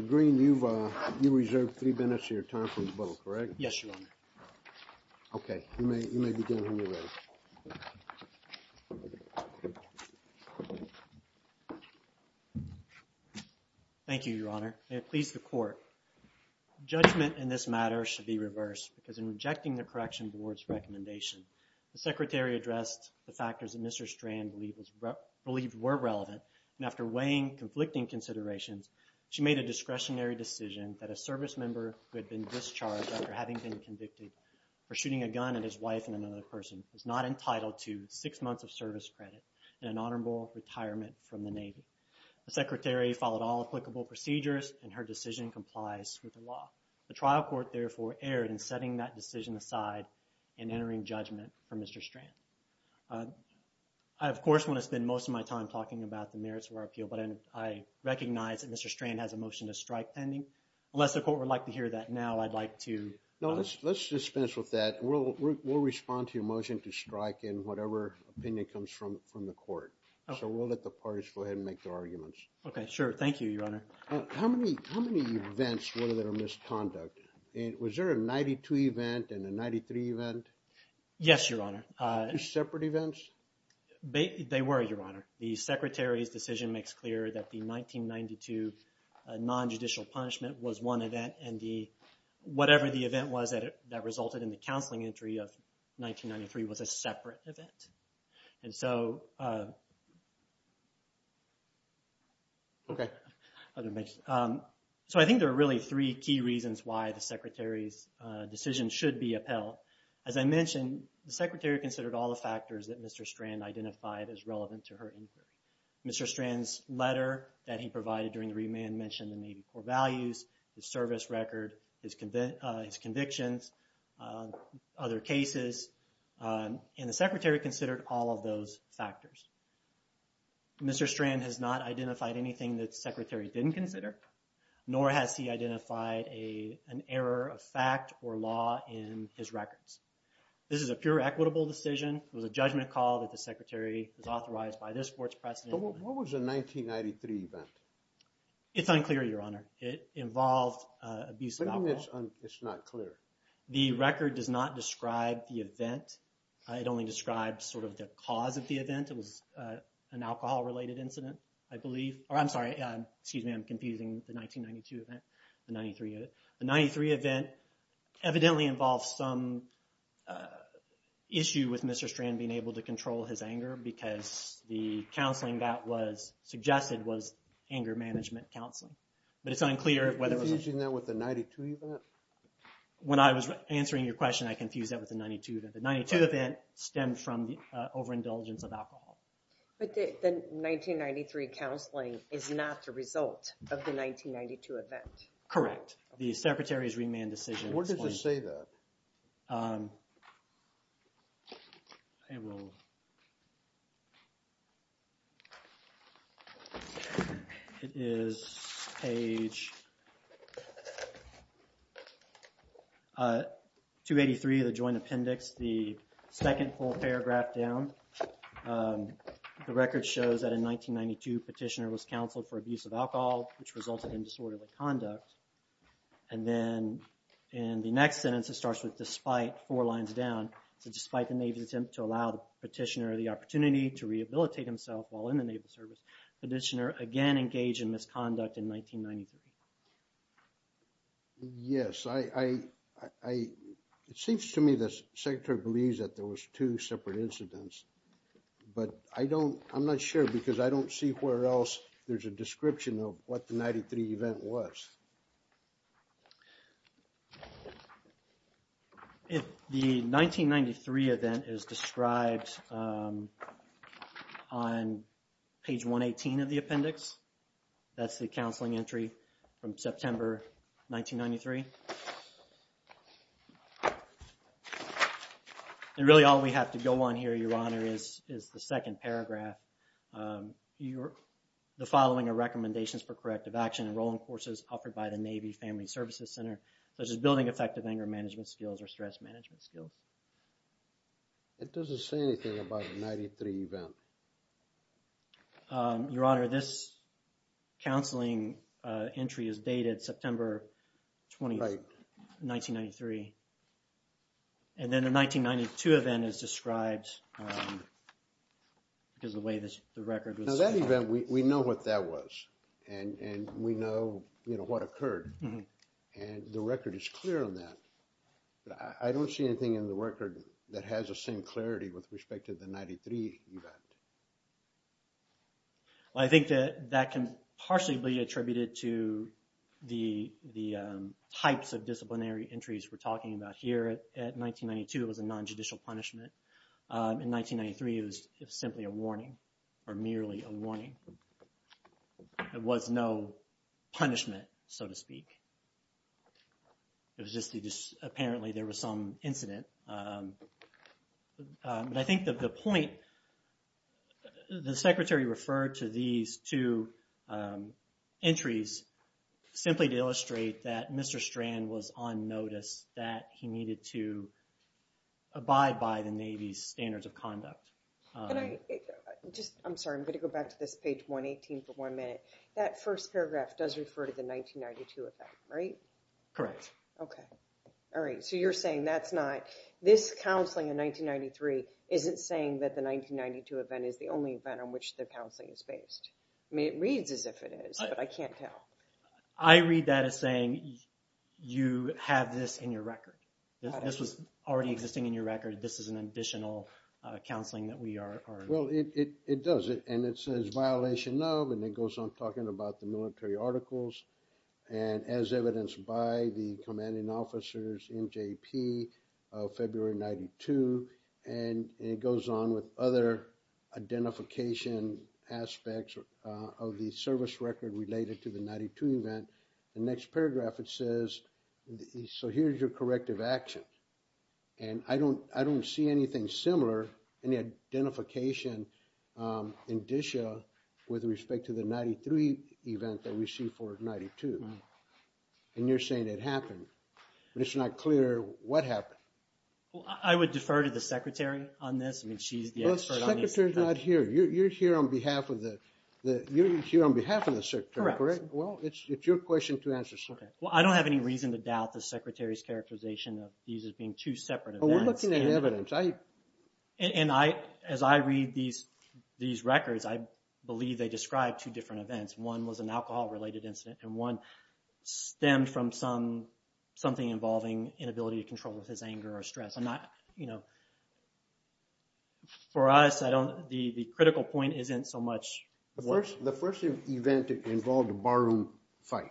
you've, uh, you reserved three minutes of your time for the bill, correct? Yes, Your Honor. Okay, you may, you may begin when you're ready. Thank you, Your Honor. May it please the Court. Judgment in this matter should be reversed because in rejecting the Correction Board's recommendation, the Secretary addressed the factors that Mr. Strand believed was, believed were relevant, and after weighing conflicting considerations, she made a discretionary decision that a service member who had been discharged after having been convicted for shooting a gun at his wife and another person was not entitled to six months of service credit and an honorable retirement from the Navy. The Secretary followed all applicable procedures and her decision complies with the law. The trial court therefore erred in setting that decision aside and entering judgment for Mr. Strand. Uh, I of course want to spend most of my time talking about the merits of our appeal, but I recognize that Mr. Strand has a motion to strike pending. Unless the Court would like to hear that now, I'd like to... No, let's just finish with that. We'll respond to your motion to strike in whatever opinion comes from the Court. So we'll let the parties go ahead and make their arguments. Okay, sure. Thank you, Your Honor. How many events were there of misconduct? Was there a 92 event and a 93 event? Yes, Your Honor. Two separate events? They were, Your Honor. The Secretary's decision makes clear that the 1992 non-judicial punishment was one event and whatever the event was that resulted in the counseling entry of 1993 was a separate event. And so, uh... Okay. So I think there are really three key reasons why the Secretary's decision should be upheld. As I mentioned, the Secretary considered all the factors that Mr. Strand identified as relevant to her inquiry. Mr. Strand's letter that he provided during the remand mentioned the Navy Corps values, the service record, his convictions, other cases, and the Secretary considered all of those factors. Mr. Strand has not identified anything that the Secretary didn't consider, nor has he identified an error of fact or law in his records. This is a pure equitable decision. It was a judgment call that the Secretary was authorized by this Court's precedent. What was the 1993 event? It's unclear, Your Honor. It involved abuse of alcohol. What do you mean it's not clear? The record does not describe the event. It only describes sort of the cause of the event. It was an alcohol-related incident, I believe. I'm sorry, excuse me, I'm confusing the 1992 event with the 93 event. The 93 event evidently involved some issue with Mr. Strand being able to control his anger because the counseling that was suggested was anger management counseling. But it's unclear whether it was... You're confusing that with the 92 event? When I was answering your question, I confused that with the 92 event. The 92 event stemmed from overindulgence of alcohol. But the 1993 counseling is not the result of the 1992 event? Correct. The Secretary's remand decision... Where does it say that? It is page 283 of the Joint Appendix, and it's the second full paragraph down. The record shows that in 1992, Petitioner was counseled for abuse of alcohol, which resulted in disorderly conduct. And then in the next sentence, it starts with, despite, four lines down. So, despite the Navy's attempt to allow the Petitioner the opportunity to rehabilitate himself while in the Naval Service, Petitioner again engaged in misconduct in 1993. Yes, I... It seems to me the Secretary believes that there was two separate incidents. But I don't... I'm not sure because I don't see where else there's a description of what the 93 event was. The 1993 event is described on page 118 of the appendix. That's the counseling entry from September 1993. And really all we have to go on here, Your Honor, is the second paragraph. The following are recommendations for corrective action and rolling courses offered by the Navy Family Services Center, such as building effective anger management skills or stress management skills. It doesn't say anything about the 93 event. Your Honor, this counseling entry is dated September... Right. 1993. And then the 1992 event is described because of the way the record was... Now that event, we know what that was. And we know, you know, what occurred. And the record is clear on that. I don't see anything in the record that has the same clarity with respect to the 93 event. Well, I think that that can partially be attributed to the types of disciplinary entries we're talking about here. At 1992, it was a non-judicial punishment. In 1993, it was simply a warning, or merely a warning. There was no punishment, so to speak. It was just that apparently there was some incident. I think that the point... The Secretary referred to these two entries simply to illustrate that Mr. Strand was on notice that he needed to abide by the Navy's standards of conduct. I'm sorry, I'm going to go back to this page 118 for one minute. That first paragraph does refer to the 1992 event, right? Correct. Okay. All right. So you're saying that's not... This counseling in 1993 isn't saying that the 1992 event is the only event on which the counseling is based. I mean, it reads as if it is, but I can't tell. I read that as saying, you have this in your record. This was already existing in your record. This is an additional counseling that we are... Well, it does. And it says, violation of... And it goes on talking about the military articles. And as evidenced by the commanding officers in JP of February 92. And it goes on with other identification aspects of the service record related to the 92 event. The next paragraph, it says, so here's your corrective action. And I don't see anything similar, any identification indicia with respect to the 93 event that we see for 92. And you're saying it happened. But it's not clear what happened. Well, I would defer to the secretary on this. I mean, she's the expert on this. Well, the secretary's not here. You're here on behalf of the secretary, correct? Correct. Well, it's your question to answer, sir. Well, I don't have any reason to doubt the secretary's characterization of these as being two separate events. Well, we're looking at evidence. And as I read these records, I believe they describe two different events. One was an alcohol-related incident. And one stemmed from something involving inability to control with his anger or stress. For us, the critical point isn't so much... The first event involved a barroom fight.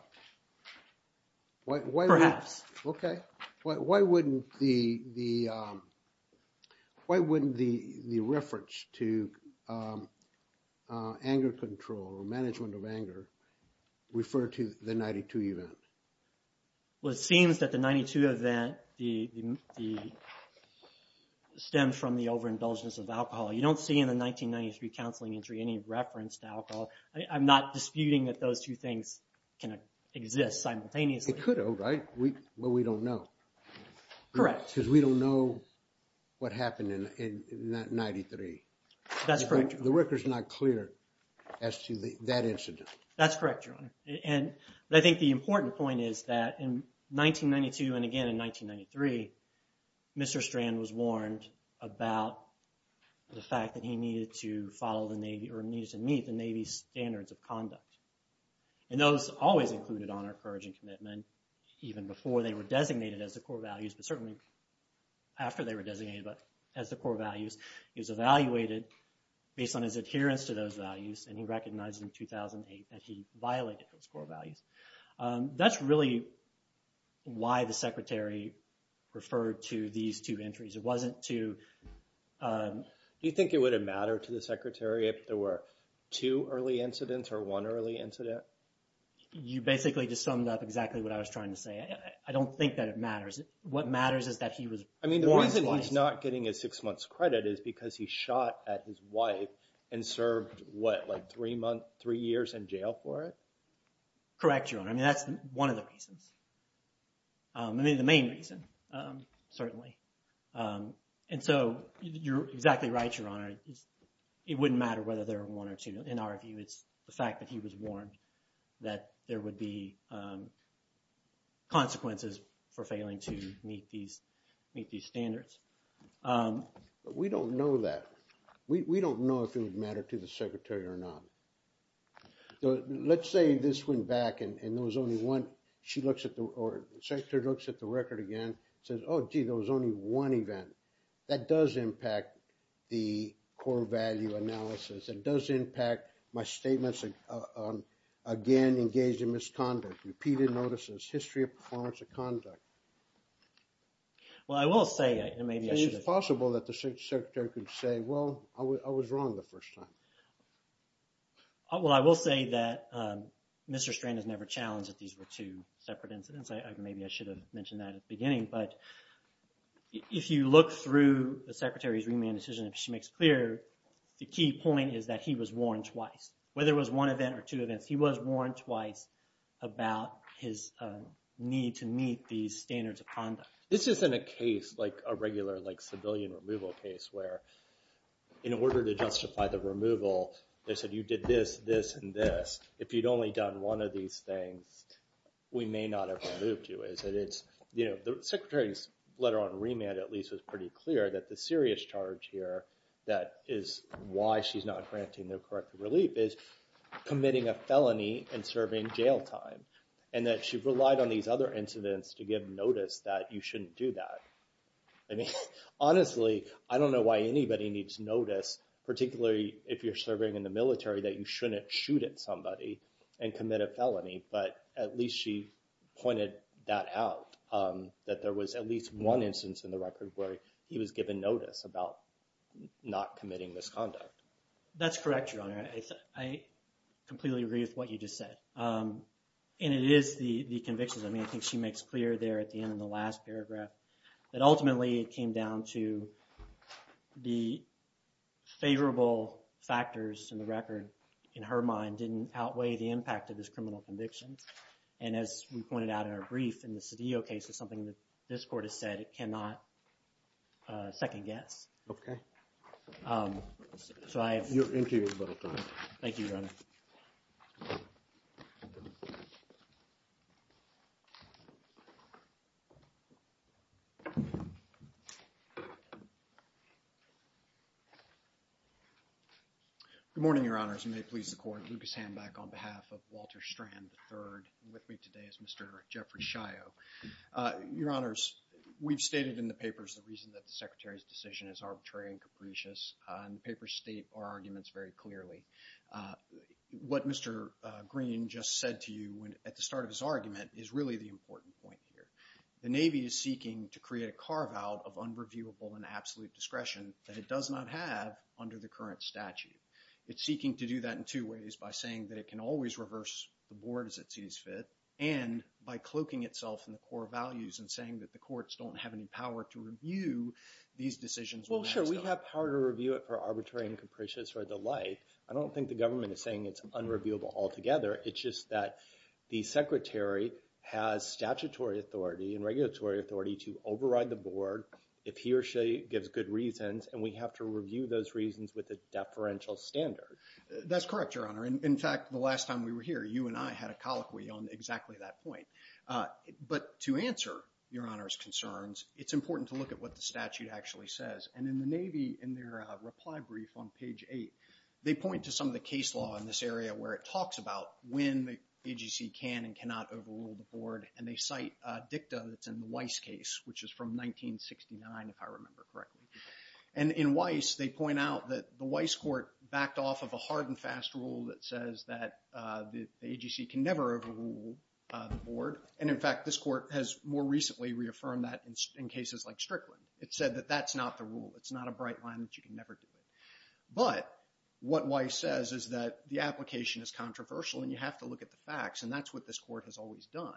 Perhaps. Okay. Why wouldn't the reference to anger control or management of anger refer to the 92 event? Well, it seems that the 92 event stemmed from the overindulgence of alcohol. You don't see in the 1993 counseling entry any reference to alcohol. I'm not disputing that those two things can exist simultaneously. It could have, right? But we don't know. Correct. Because we don't know what happened in that 93. That's correct, Your Honor. The record's not clear as to that incident. That's correct, Your Honor. And I think the important point is that in 1992 and again in 1993, Mr. Strand was warned about the fact that he needed to follow the Navy or needed to meet the Navy's standards of conduct. And those always included honor, courage, and commitment even before they were designated as the core values. But certainly after they were designated as the core values, he was evaluated based on his adherence to those values, and he recognized in 2008 that he violated those core values. That's really why the Secretary referred to these two entries. It wasn't to... Do you think it would have mattered to the Secretary if there were two early incidents or one early incident? You basically just summed up exactly what I was trying to say. I don't think that it matters. What matters is that he was warned twice. I mean, the reason he's not getting his six months credit is because he shot at his wife and served, what, like three months, three years in jail for it? Correct, Your Honor. I mean, that's one of the reasons. I mean, the main reason, certainly. And so you're exactly right, Your Honor. It wouldn't matter whether there were one or two. In our view, it's the fact that he was warned that there would be consequences for failing to meet these standards. We don't know that. We don't know if it would matter to the Secretary or not. Let's say this went back and there was only one... She looks at the... Or the Secretary looks at the record again and says, oh, gee, there was only one event. That does impact the core value analysis. It does impact my statements on, again, engaging misconduct, repeated notices, history of performance of conduct. Well, I will say that maybe I should have... It's possible that the Secretary could say, well, I was wrong the first time. Well, I will say that Mr. Strand has never challenged that these were two separate incidents. Maybe I should have mentioned that at the beginning. But if you look through the Secretary's remand decision and she makes clear, the key point is that he was warned twice. Whether it was one event or two events, he was warned twice about his need to meet these standards of conduct. This isn't a case like a regular civilian removal case where in order to justify the removal, they said you did this, this, and this. If you'd only done one of these things, we may not have removed you. The Secretary's letter on remand, at least, was pretty clear that the serious charge here that is why she's not granting the corrective relief is committing a felony and serving jail time. And that she relied on these other incidents to give notice that you shouldn't do that. Honestly, I don't know why anybody needs notice, particularly if you're serving in the military, that you shouldn't shoot at somebody and commit a felony. But at least she pointed that out, that there was at least one instance in the record where he was given notice about not committing misconduct. That's correct, Your Honor. I completely agree with what you just said. And it is the convictions. I mean, I think she makes clear there at the end of the last paragraph that ultimately it came down to the favorable factors in the record, in her mind, didn't outweigh the impact of these criminal convictions. And as we pointed out in our brief, in the Cedillo case, it's something that this Court has said it cannot second-guess. You're interviewed. Thank you, Your Honor. Good morning, Your Honors. You may please the Court. Lucas Hamback on behalf of Walter Strand III. With me today is Mr. Jeffrey Shio. Your Honors, we've stated in the papers the reason that the Secretary's decision is arbitrary and capricious, and the papers state our arguments very clearly. What Mr. Green just said to you at the start of his argument is really the important point here. The Navy is seeking to create a carve-out of unreviewable and absolute discretion that it does not have under the current statute. It's seeking to do that in two ways. By saying that it can always reverse the board as it sees fit, and by cloaking itself in the core values and saying that the courts don't have any power to review these decisions. Well, sure, we have power to review it for arbitrary and capricious or the like. I don't think the government is saying it's unreviewable altogether. It's just that the Secretary has statutory authority and regulatory authority to override the board if he or she gives good reasons, and we have to review those reasons with a deferential standard. That's correct, Your Honor. In fact, the last time we were here, you and I had a colloquy on exactly that point. But to answer Your Honor's concerns, it's important to look at what the statute actually says. In the Navy, in their reply brief on page 8, they point to some of the case law in this area where it talks about when the AGC can and cannot overrule the board, and they cite dicta that's in the Weiss case, which is from 1969, if I remember correctly. In Weiss, they point out that the Weiss Court backed off of a hard and fast rule that says that the AGC can never overrule the board. In fact, this Court has more recently reaffirmed that in cases like Strickland. It said that that's not the rule. It's not a bright line that you can never do it. But what Weiss says is that the application is controversial, and you have to look at the facts, and that's what this Court has always done.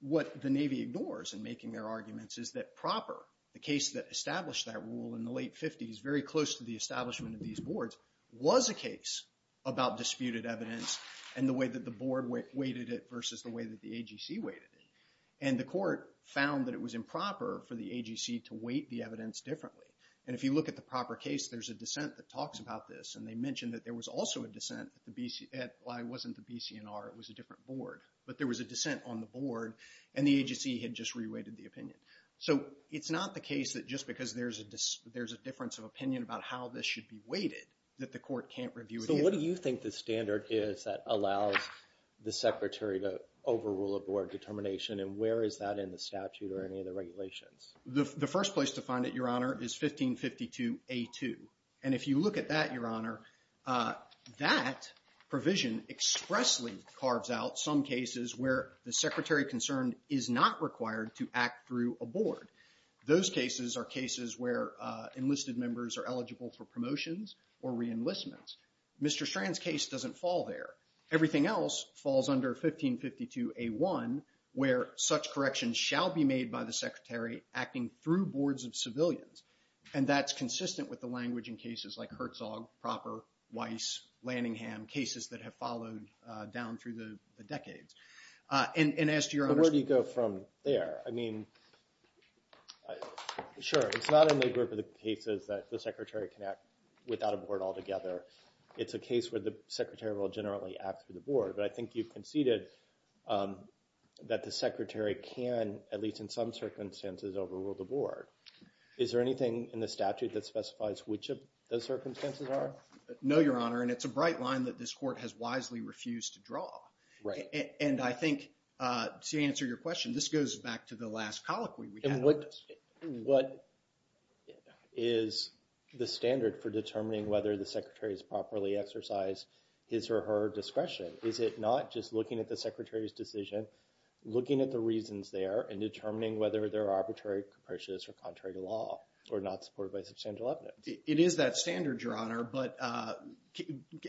What the Navy ignores in making their arguments is that proper, the case that established that rule in the late 50s, very close to the establishment of these boards, was a case about disputed evidence, and the way that the board weighted it versus the way that the AGC weighted it. And the Court found that it was improper for the AGC to weight the evidence differently. And if you look at the proper case, there's a dissent that talks about this, and they mention that there was also a dissent at the BCNR. It wasn't the BCNR, it was a different board. But there was a dissent on the board, and the AGC had just re-weighted the opinion. So it's not the case that just because there's a difference of opinion about how this should be weighted, that the Court can't review it either. So what do you think the standard is that allows the Secretary to overrule a board determination, and where is that in the statute or any of the regulations? The first place to find it, Your Honor, is 1552A2. And if you look at that, Your Honor, that provision expressly carves out some cases where the Secretary concerned is not required to act through a board. Those cases are cases where enlisted members are eligible for promotions or re-enlistments. Mr. Strand's case doesn't fall there. Everything else falls under 1552A1, where such corrections shall be made by the Secretary acting through boards of civilians. And that's consistent with the language in cases like Herzog, Proper, Weiss, Lanningham, cases that have followed down through the decades. And as to Your Honor's... But where do you go from there? I mean, sure, it's not in the group of the cases that the Secretary can act without a board altogether. It's a case where the Secretary will generally act through the board. But I think you conceded that the Secretary can, at least in some circumstances, overrule the board. Is there anything in the statute that specifies which of those circumstances are? No, Your Honor, and it's a bright line that this Court has wisely refused to draw. And I think, to answer your question, this goes back to the last colloquy. What is the way in which the Secretaries properly exercise his or her discretion? Is it not just looking at the Secretary's decision, looking at the reasons there, and determining whether they're arbitrary, capricious, or contrary to law, or not supported by substantial evidence? It is that standard, Your Honor, but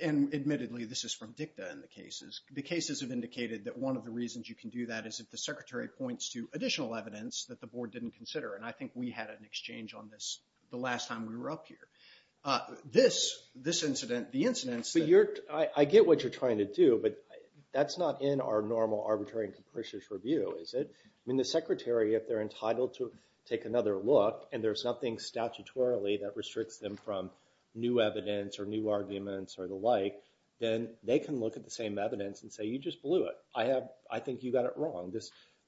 admittedly, this is from DICTA in the cases. The cases have indicated that one of the reasons you can do that is if the Secretary points to additional evidence that the board didn't consider. And I think we had an exchange on this the last time we had this incident. I get what you're trying to do, but that's not in our normal, arbitrary, and capricious review, is it? I mean, the Secretary, if they're entitled to take another look, and there's nothing statutorily that restricts them from new evidence, or new arguments, or the like, then they can look at the same evidence and say, you just blew it. I think you got it wrong.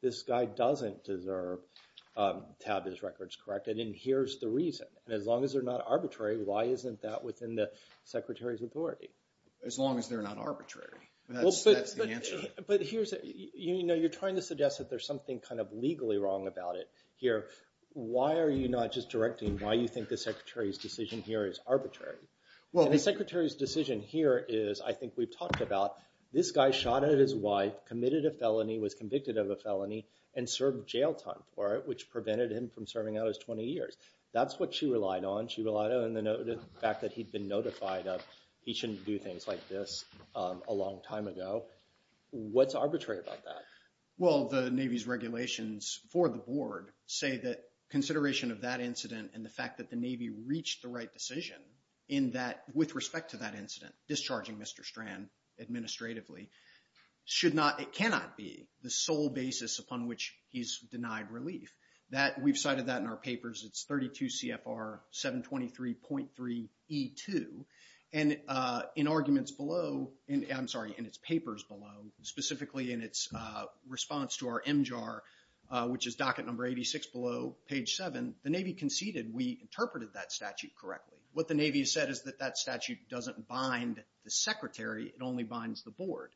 This guy doesn't deserve to have his records corrected, and here's the reason. And as long as they're not arbitrary, why isn't that within the Secretary's authority? As long as they're not arbitrary. That's the answer. But here's, you know, you're trying to suggest that there's something kind of legally wrong about it here. Why are you not just directing why you think the Secretary's decision here is arbitrary? And the Secretary's decision here is, I think we've talked about, this guy shot at his wife, committed a felony, was convicted of a felony, and served jail time for it, which prevented him from serving out his 20 years. That's what she relied on. She relied on the fact that he'd been notified of he shouldn't do things like this a long time ago. What's arbitrary about that? Well, the Navy's regulations for the board say that consideration of that incident and the fact that the Navy reached the right decision in that, with respect to that incident, discharging Mr. Strand administratively, should not, it cannot be the sole basis upon which he's denied relief. We've cited that in our papers. It's 32 CFR 723.3e2. And in arguments below, I'm sorry, in its papers below, specifically in its response to our MJAR, which is docket number 86 below page 7, the Navy conceded we interpreted that statute correctly. What the Navy has said is that that statute doesn't bind the Secretary, it only binds the board.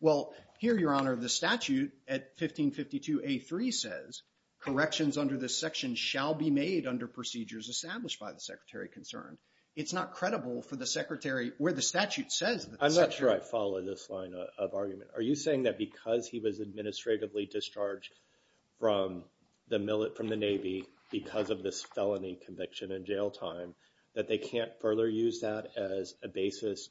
Well, here, Your Honor, the statute at 1552 A3 says, corrections under this section shall be made under procedures established by the Secretary concerned. It's not credible for the Secretary where the statute says that the Secretary... I'm not sure I follow this line of argument. Are you saying that because he was administratively discharged from the Navy because of this felony conviction in jail time, that they can't further use that as a basis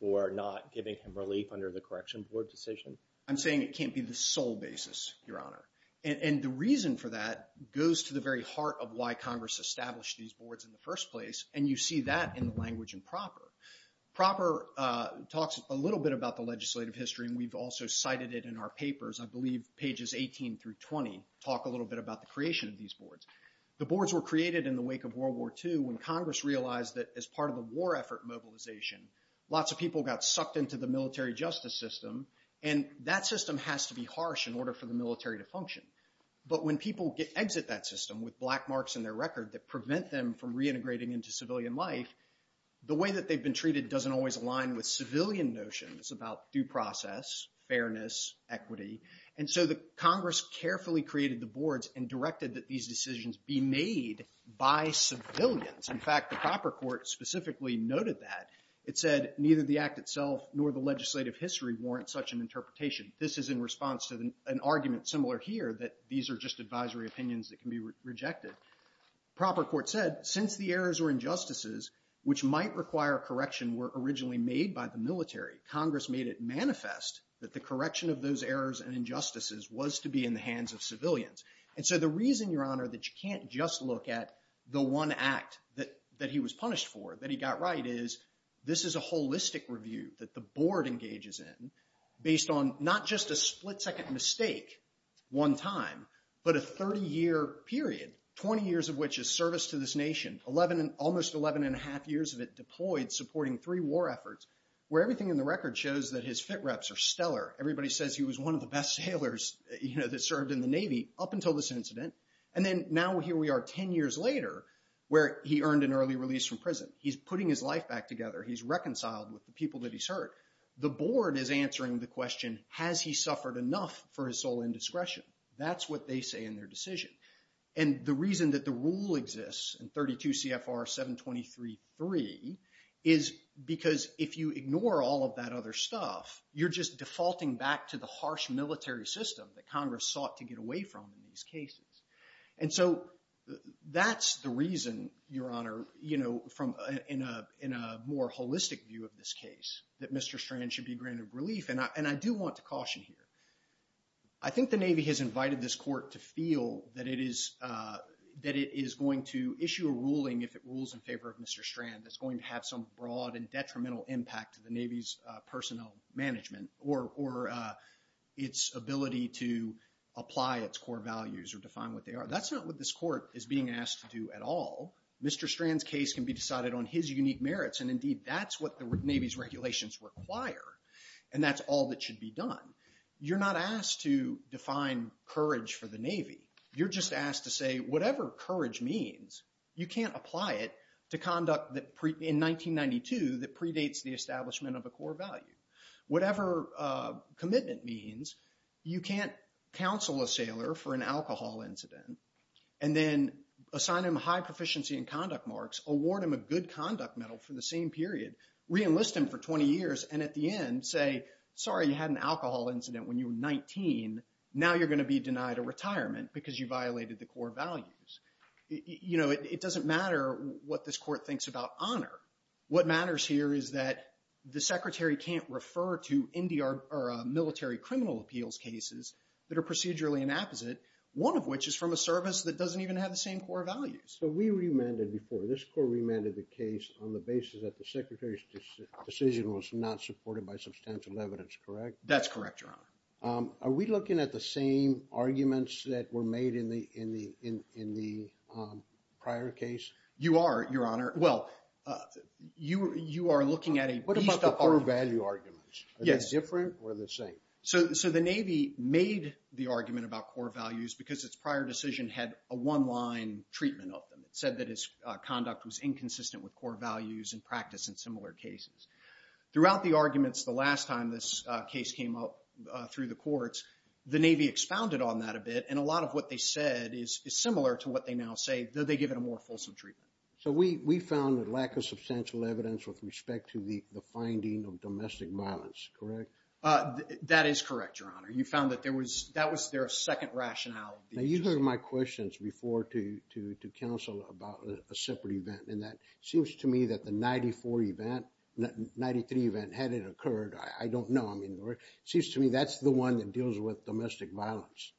for not giving him relief under the correction board decision? I'm saying it can't be the sole basis, Your Honor. And the reason for that goes to the very heart of why Congress established these boards in the first place, and you see that in the language in PROPER. PROPER talks a little bit about the legislative history, and we've also cited it in our papers, I believe pages 18 through 20 talk a little bit about the creation of these boards. The boards were created in the wake of World War II when Congress realized that as part of the war effort mobilization, lots of people got sucked into the military justice system, and that system has to be harsh in order for the military to function. But when people exit that system with black marks in their record that prevent them from reintegrating into civilian life, the way that they've been treated doesn't always align with civilian notions about due process, fairness, equity, and so the Congress carefully created the boards and directed that these decisions be made by civilians. In fact, the PROPER Court specifically noted that. It said, neither the act itself nor the legislative history warrant such an interpretation. This is in response to an argument similar here that these are just advisory opinions that can be rejected. PROPER Court said, since the errors were injustices, which might require correction were originally made by the military, Congress made it manifest that the correction of those errors and injustices was to be in the hands of civilians. And so the reason, Your Honor, that you can't just look at the one act that he was punished for, that he got right, is this is a holistic review that the board engages in, based on not just a split-second mistake one time, but a 30-year period, 20 years of which is service to this nation. Almost 11 and a half years of it deployed supporting three war efforts where everything in the record shows that his fit reps are stellar. Everybody says he was one of the best sailors that served in the Navy up until this incident. And then now here we are 10 years later where he earned an early release from prison. He's putting his life back together. He's reconciled with the people that he's hurt. The board is answering the question, has he suffered enough for his sole indiscretion? That's what they say in their decision. And the reason that the rule exists in 32 CFR 723.3 is because if you ignore all of that other stuff, you're just defaulting back to the harsh military system that Congress sought to get away from in these cases. And so that's the reason, Your Honor, in a more holistic view of this case, that Mr. Strand should be granted relief. And I do want to caution here. I think the Navy has invited this court to feel that it is going to issue a ruling if it rules in favor of Mr. Strand that's going to have some broad and detrimental impact to the Navy's personnel management or its ability to apply its core values or define what they are. That's not what this court is being asked to do at all. Mr. Strand's case can be decided on his unique merits and indeed that's what the Navy's regulations require. And that's all that should be done. You're not asked to define courage for the Navy. You're just asked to say whatever courage means, you can't apply it to conduct in 1992 that predates the establishment of a core value. Whatever commitment means, you can't counsel a sailor for an alcohol incident and then assign him high proficiency in conduct marks, award him a good conduct medal for the same period, reenlist him for 20 years, and at the end say, sorry you had an alcohol incident when you were 19, now you're going to be denied a retirement because you violated the core values. You know, it doesn't matter what this court thinks about honor. What matters here is that the secretary can't refer to military criminal appeals cases that are procedurally inapposite, one of which is from a service that doesn't even have the same core values. So we remanded before, this court remanded the case on the basis that the secretary's decision was not supported by substantial evidence, correct? That's correct, Your Honor. Are we looking at the same arguments that were made in the prior case? You are, Your Honor. Well, you are looking at a beast of arguments. What about the core value arguments? Yes. Are they different or the same? So the Navy made the argument about core values because its prior decision had a one-line treatment of them. It said that its conduct was inconsistent with core values and practice in similar cases. Throughout the arguments, the last time this case came up through the courts, the Navy expounded on that a bit and a lot of what they said is similar to what they now say, though they give it a more fulsome treatment. So we found a lack of substantial evidence with respect to the finding of domestic violence, correct? That is correct, Your Honor. You found that that was their second rationale. Now, you heard my questions before to counsel about a separate event, and that seems to me that the 94 event, 93 event, had it occurred, I don't know. It seems to me that's the one that deals with domestic violence.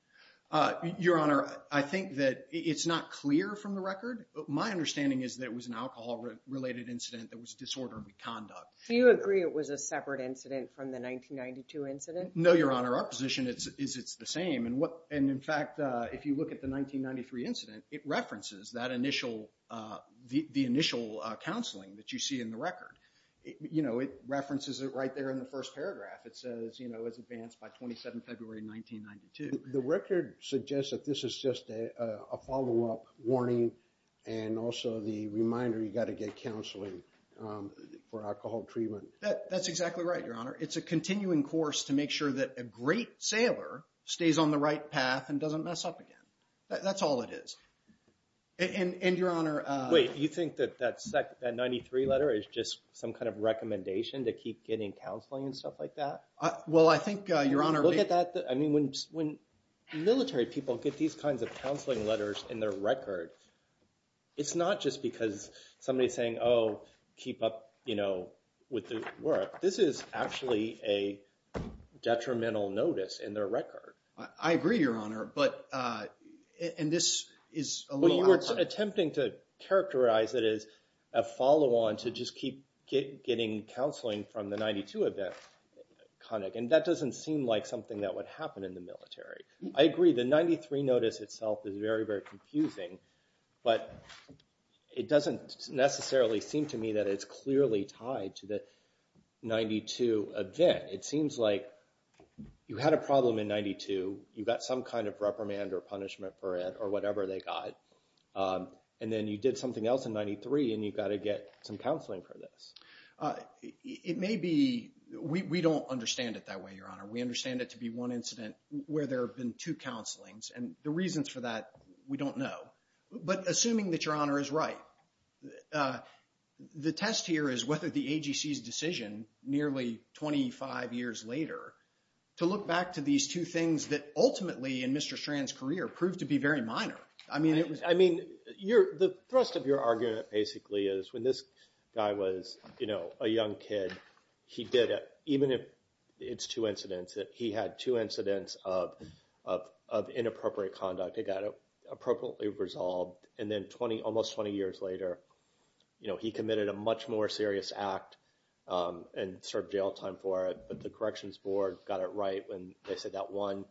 Your Honor, I think that it's not clear from the record. My understanding is that it was an alcohol related incident that was disorderly conduct. Do you agree it was a separate incident from the 1992 incident? No, Your Honor. Our position is it's the same, and in fact, if you look at the 1993 incident, it references that initial counseling that you see in the record. It references it right there in the first paragraph. It says it was advanced by 27 February 1992. The record suggests that this is just a follow-up warning, and also the reminder you've got to get counseling for alcohol treatment. That's exactly right, Your Honor. It's a continuing course to make sure that a great sailor stays on the right path and doesn't mess up again. That's all it is. And, Your Honor... Wait, you think that that 93 letter is just some kind of recommendation to keep getting counseling and stuff like that? Well, I think, Your Honor... When you look at that, I mean, when military people get these kinds of counseling letters in their record, it's not just because somebody's saying, oh, keep up, you know, with the work. This is actually a detrimental notice in their record. I agree, Your Honor, but... And this is a little... Well, you were attempting to characterize it as a follow-on to just keep getting counseling from the 92 event. And that doesn't seem like something that would happen in the military. I agree, the 93 notice itself is very, very confusing, but it doesn't necessarily seem to me that it's clearly tied to the 92 event. It seems like you had a problem in 92, you got some kind of reprimand or punishment for it, or whatever they got, and then you did something else in 93, and you've got to get some counseling for this. It may be... We don't understand it that way, Your Honor. We understand it to be one incident where there have been two counselings, and the reasons for that, we don't know. But assuming that Your Honor is right, the test here is whether the AGC's decision, nearly 25 years later, to look back to these two things that ultimately, in Mr. Strand's career, proved to be very minor. I mean, it was... I mean, the thrust of your argument basically is when this guy was, you know, a young kid, he did, even if it's two incidents, that he had two incidents of inappropriate conduct. It got appropriately resolved, and then almost 20 years later, you know, he committed a much more serious act and served jail time for it, but the Corrections Board got it right when they said that one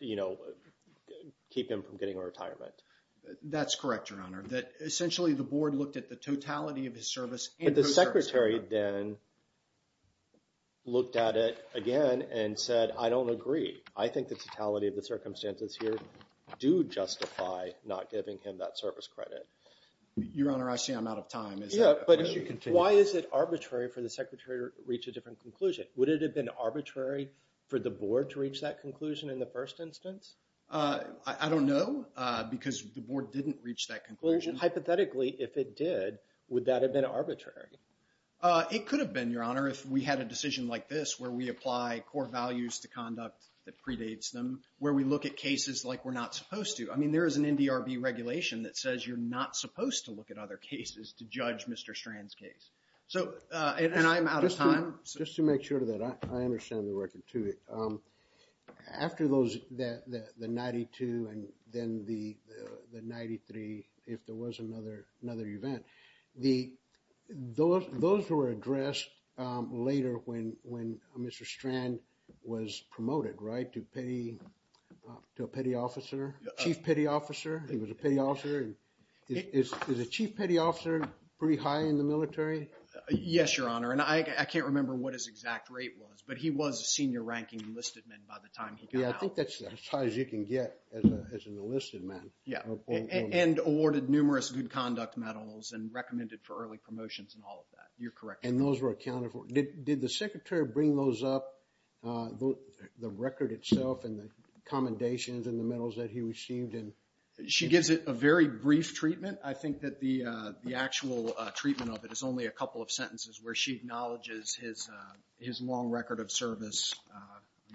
you know, keep him from getting a retirement. That's correct, Your Honor. That essentially, the Board looked at the totality of his service... But the Secretary then looked at it again and said, I don't agree. I think the totality of the circumstances here do justify not giving him that service credit. Your Honor, I see I'm out of time. Why is it arbitrary for the Secretary to reach a different conclusion? Would it have been arbitrary for the Board to reach that conclusion in the first instance? I don't know because the Board didn't reach that conclusion. Hypothetically, if it did, would that have been arbitrary? It could have been, Your Honor, if we had a decision like this, where we apply core values to conduct that predates them, where we look at cases like we're not supposed to. I mean, there is an NDRB regulation that says you're not supposed to look at other cases to judge Mr. Strand's case, and I'm out of time. Just to make sure of that, I understand the record, too. After those, the 92 and then the 93, if there was another event. Those were addressed later when Mr. Strand was promoted, right? To a Petty Officer, Chief Petty Officer. He was a Petty Officer. Is a Chief Petty Officer pretty high in the military? Yes, Your Honor, and I can't remember what his exact rate was, but he was a Senior Ranking Enlisted Man by the time he got out. Yeah, I think that's as high as you can get as an enlisted man. And awarded numerous Good Conduct Medals and recommended for early promotions and all of that. You're correct. And those were accounted for. Did the Secretary bring those up, the record itself and the commendations and the medals that he received? She gives it a very brief treatment. I think that the actual treatment of it is only a couple of sentences where she acknowledges his long record of service.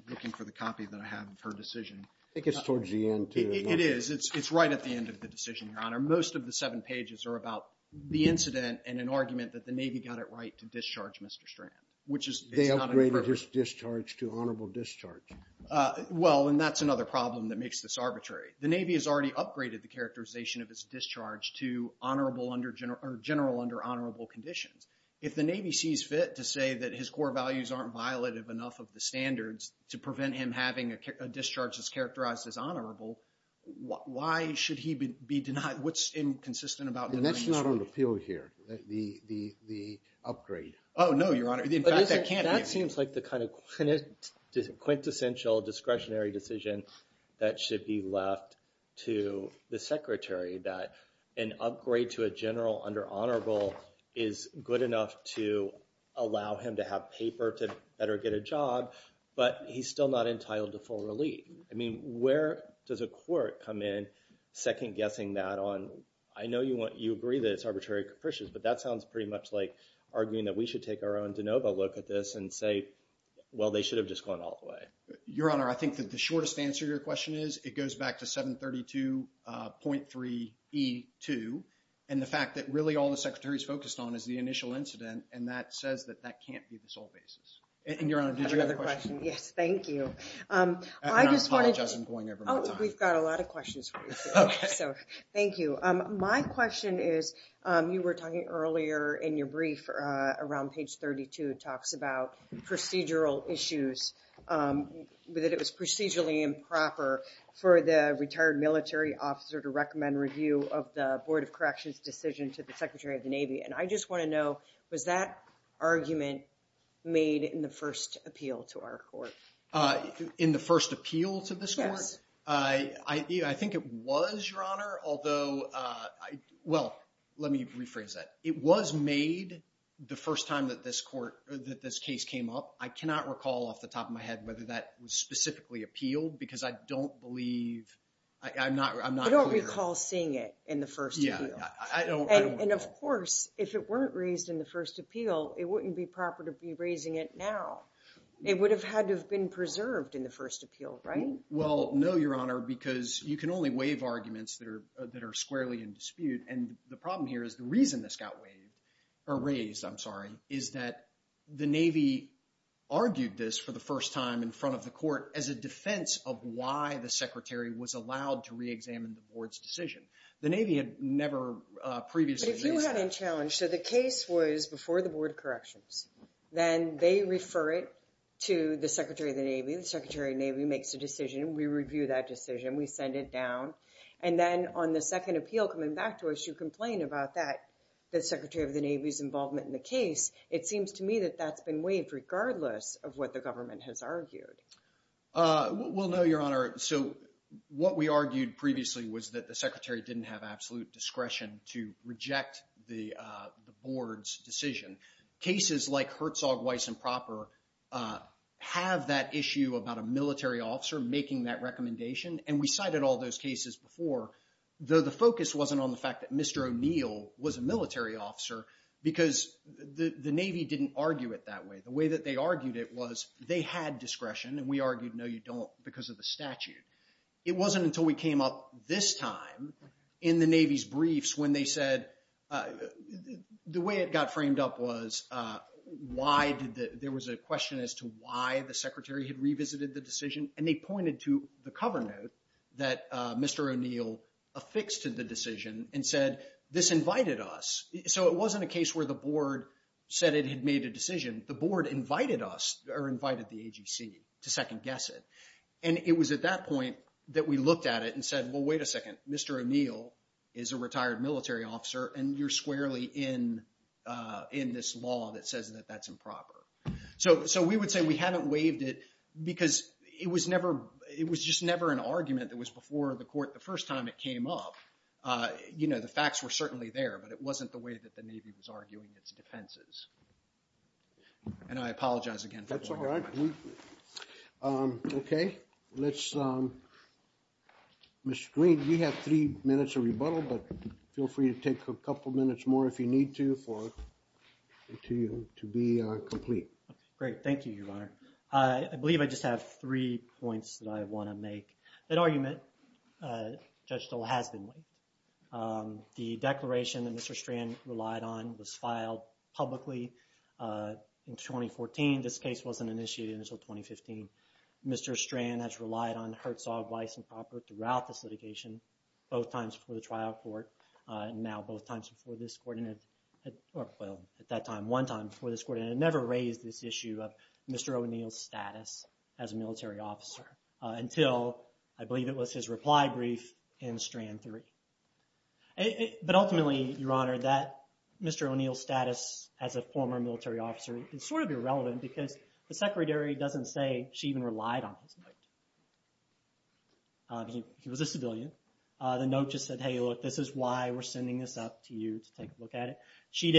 Looking for the copy that I have of her decision. I think it's towards the end, too. It is. It's right at the end of the decision, Your Honor. Most of the seven pages are about the incident and an argument that the Navy got it right to discharge Mr. Strand. They upgraded his discharge to honorable discharge. Well, and that's another problem that makes this arbitrary. The Navy has already upgraded the characterization of his discharge to general under honorable conditions. If the Navy sees fit to say that his core values aren't violative enough of the standards to prevent him having a discharge that's characterized as honorable, why should he be denied? What's inconsistent about denying his right? That's not on appeal here. The upgrade. Oh, no, Your Honor. That seems like the kind of quintessential discretionary decision that should be left to the Secretary that an upgrade to a general under honorable is good enough to allow him to have paper to better get a job, but he's still not entitled to full relief. I mean, where does a court come in second-guessing that on, I know you agree that it's arbitrary and capricious, but that sounds pretty much like arguing that we should take our own de novo look at this and say, well, they should have just gone all the way. Your Honor, I think that the shortest answer to your question is it goes back to 732.3E2, and the fact that really all the Secretary's focused on is the initial incident, and that says that that can't be the sole basis. And, Your Honor, did you have a question? Yes, thank you. I apologize, I'm going over my time. Oh, we've got a lot of questions for you, so thank you. My question is, you were talking earlier in your brief around page 32 talks about procedural issues, that it was procedurally improper for the retired military officer to recommend review of the Board of Corrections' decision to the Secretary of the Navy. And I just want to know, was that argument made in the first appeal to our Court? In the first appeal to this Court? Yes. I think it was, Your Honor, although well, let me rephrase that. It was made the first time that this Court, that this case came up. I cannot recall off the top of my head whether that was specifically appealed, because I don't believe I'm not clear. I don't recall seeing it in the first appeal. I don't recall. And of course, if it weren't raised in the first appeal, it wouldn't be proper to be raising it now. It would have had to have been preserved in the first appeal, right? Well, no, Your Honor, because you can only waive arguments that are squarely in dispute, and the problem here is the reason this got waived, or raised, I'm sorry, is that the Navy argued this for the first time in front of the Court as a defense of why the Secretary was allowed to reexamine the Board's decision. The Navy had never previously raised that. But if you had in challenge, so the case was before the Board of Corrections, then they refer it to the Secretary of the Navy. The Secretary of the Navy makes a decision. We review that decision. We send it down. And then on the second appeal coming back to us, you complain about that, the Secretary of the Navy's involvement in the case. It seems to me that that's been waived regardless of what the government has argued. Well, no, Your Honor. So what we argued previously was that the Secretary didn't have absolute discretion to reject the Board's decision. Cases like Herzog, Weiss, and Proper have that issue about a military officer making that recommendation, and we cited all those cases before, though the focus wasn't on the fact that Mr. O'Neill was a military officer because the Navy didn't argue it that way. The way that they argued it was they had discretion, and we argued, no, you don't, because of the statute. It wasn't until we came up this time in the Navy's briefs when they said the way it got framed up was there was a question as to why the Secretary had revisited the decision, and they pointed to the cover note that Mr. O'Neill affixed to the decision and said, this invited us. So it wasn't a new decision. The Board invited us, or invited the AGC, to second-guess it, and it was at that point that we looked at it and said, well, wait a second. Mr. O'Neill is a retired military officer, and you're squarely in this law that says that that's improper. So we would say we haven't waived it because it was never, it was just never an argument that was before the Court the first time it came up. You know, the facts were certainly there, but it wasn't the way that the Navy was and I apologize again. That's all right. Okay. Let's Mr. Green, you have three minutes of rebuttal, but feel free to take a couple minutes more if you need to for it to be complete. Great. Thank you, Your Honor. I believe I just have three points that I want to make. That argument, Judge Stoll, has been waived. The declaration that Mr. Strand relied on was in 2014. This case wasn't initiated until 2015. Mr. Strand has relied on Herzog vice and proper throughout this litigation, both times before the trial court and now both times before this Court and, well, at that time one time before this Court, and it never raised this issue of Mr. O'Neill's status as a military officer until, I believe it was his reply brief in Strand 3. But ultimately, Your Honor, that Mr. O'Neill's status as a former military officer is sort of irrelevant because the secretary doesn't say she even relied on him. He was a civilian. The note just said, hey, look, this is why we're sending this up to you to take a look at it. She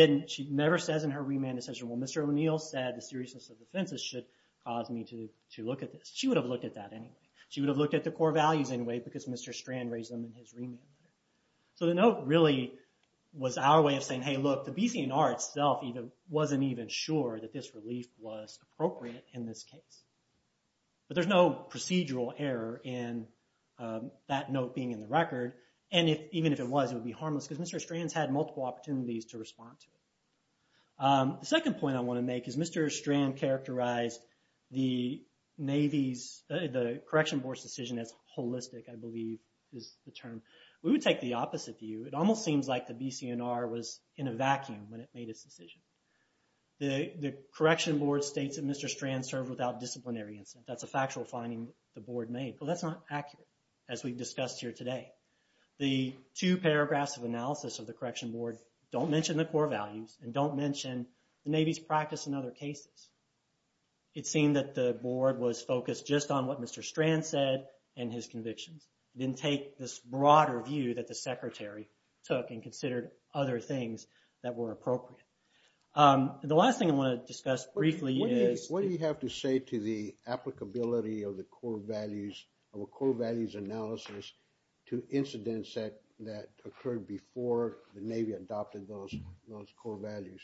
never says in her remand decision, well, Mr. O'Neill said the seriousness of the offenses should cause me to look at this. She would have looked at that anyway. She would have looked at the core values anyway because Mr. Strand raised them in his remand letter. So the note really was our way of saying, hey, look, the BC&R itself wasn't even sure that this relief was appropriate in this case. But there's no procedural error in that note being in the record and even if it was, it would be harmless because Mr. Strand's had multiple opportunities to respond to it. The second point I want to make is Mr. Strand characterized the Navy's, the Correction Board's decision as holistic, I believe is the term. We would take the opposite view. It almost seems like the BC&R was in a vacuum when it made its decision. The Correction Board states that Mr. Strand served without disciplinary incident. That's a factual finding the Board made. Well, that's not accurate as we've discussed here today. The two paragraphs of analysis of the Correction Board don't mention the core values and don't mention the Navy's practice in other cases. It seemed that the Board was focused just on what Mr. Strand said and his convictions. It didn't take this broader view that the Secretary took and considered other things that were appropriate. The last thing I want to discuss briefly is... What do you have to say to the applicability of the core values, of a core values analysis to incidents that occurred before the Navy adopted those core values?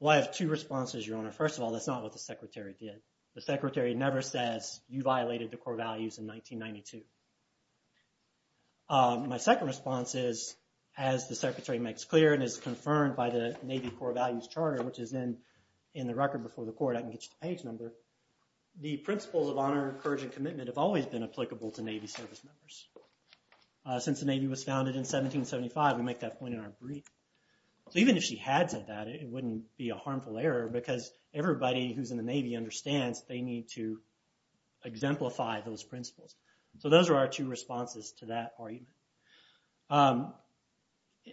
Well, I have two responses, Your Honor. First of all, that's not what the Secretary did. The Secretary never says, you violated the core values in 1992. My second response is, as the Secretary makes clear and is confirmed by the Navy Core Values Charter, which is in the record before the Court. I can get you the page number. The principles of honor, courage, and commitment have always been applicable to Navy service members. Since the Navy was founded in 1775, we make that point in our brief. Even if she had said that, it wouldn't be a harmful error because everybody who's in the Navy understands they need to exemplify those principles. So those are our two responses to that argument.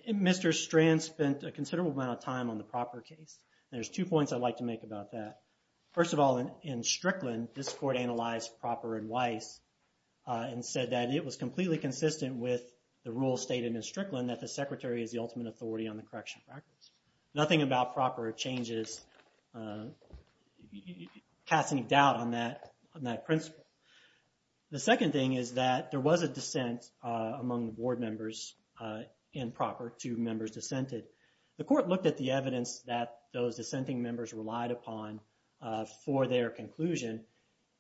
Mr. Strand spent a considerable amount of time on the proper case. There's two points I'd like to make about that. First of all, in Strickland, this Court analyzed proper advice and said that it was completely consistent with the rule stated in Strickland that the Secretary is the ultimate authority on the correctional practice. Nothing about proper changes casts any doubt on that principle. The second thing is that there was a dissent among the Board members in proper to members dissented. The Court looked at the evidence that those dissenting members relied upon for their conclusion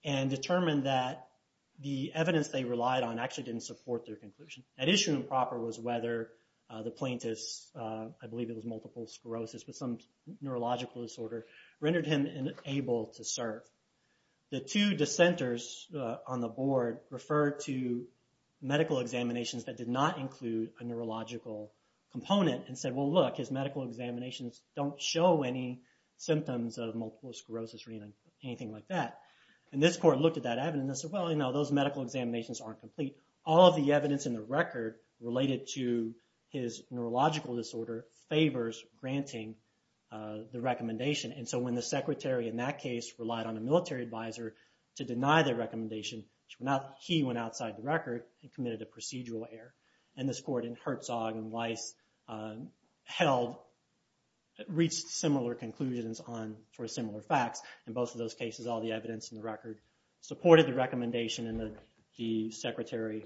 and determined that the evidence they relied on actually didn't support their conclusion. That issue in proper was whether the plaintiffs, I believe it was multiple sclerosis with some neurological disorder, rendered him unable to serve. The two dissenters on the Board referred to medical examinations that did not include a neurological component and said, look, his medical examinations don't show any symptoms of multiple sclerosis or anything like that. This Court looked at that evidence and said, those medical examinations aren't complete. All of the evidence in the record related to his granting the recommendation. When the Secretary in that case relied on a military advisor to deny their recommendation, he went outside the record and committed a procedural error. This Court in Herzog and Weiss held, reached similar conclusions for similar facts. In both of those cases, all the evidence in the record supported the recommendation and the Secretary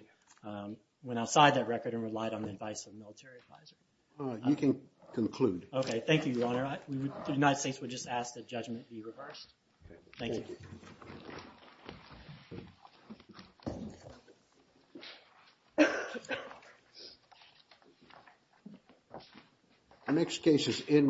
went outside that record and relied on the advice of the military advisor. You can conclude. Okay, thank you, Your Honor. The United States would just ask that judgment be reversed. Thank you. The next case is in...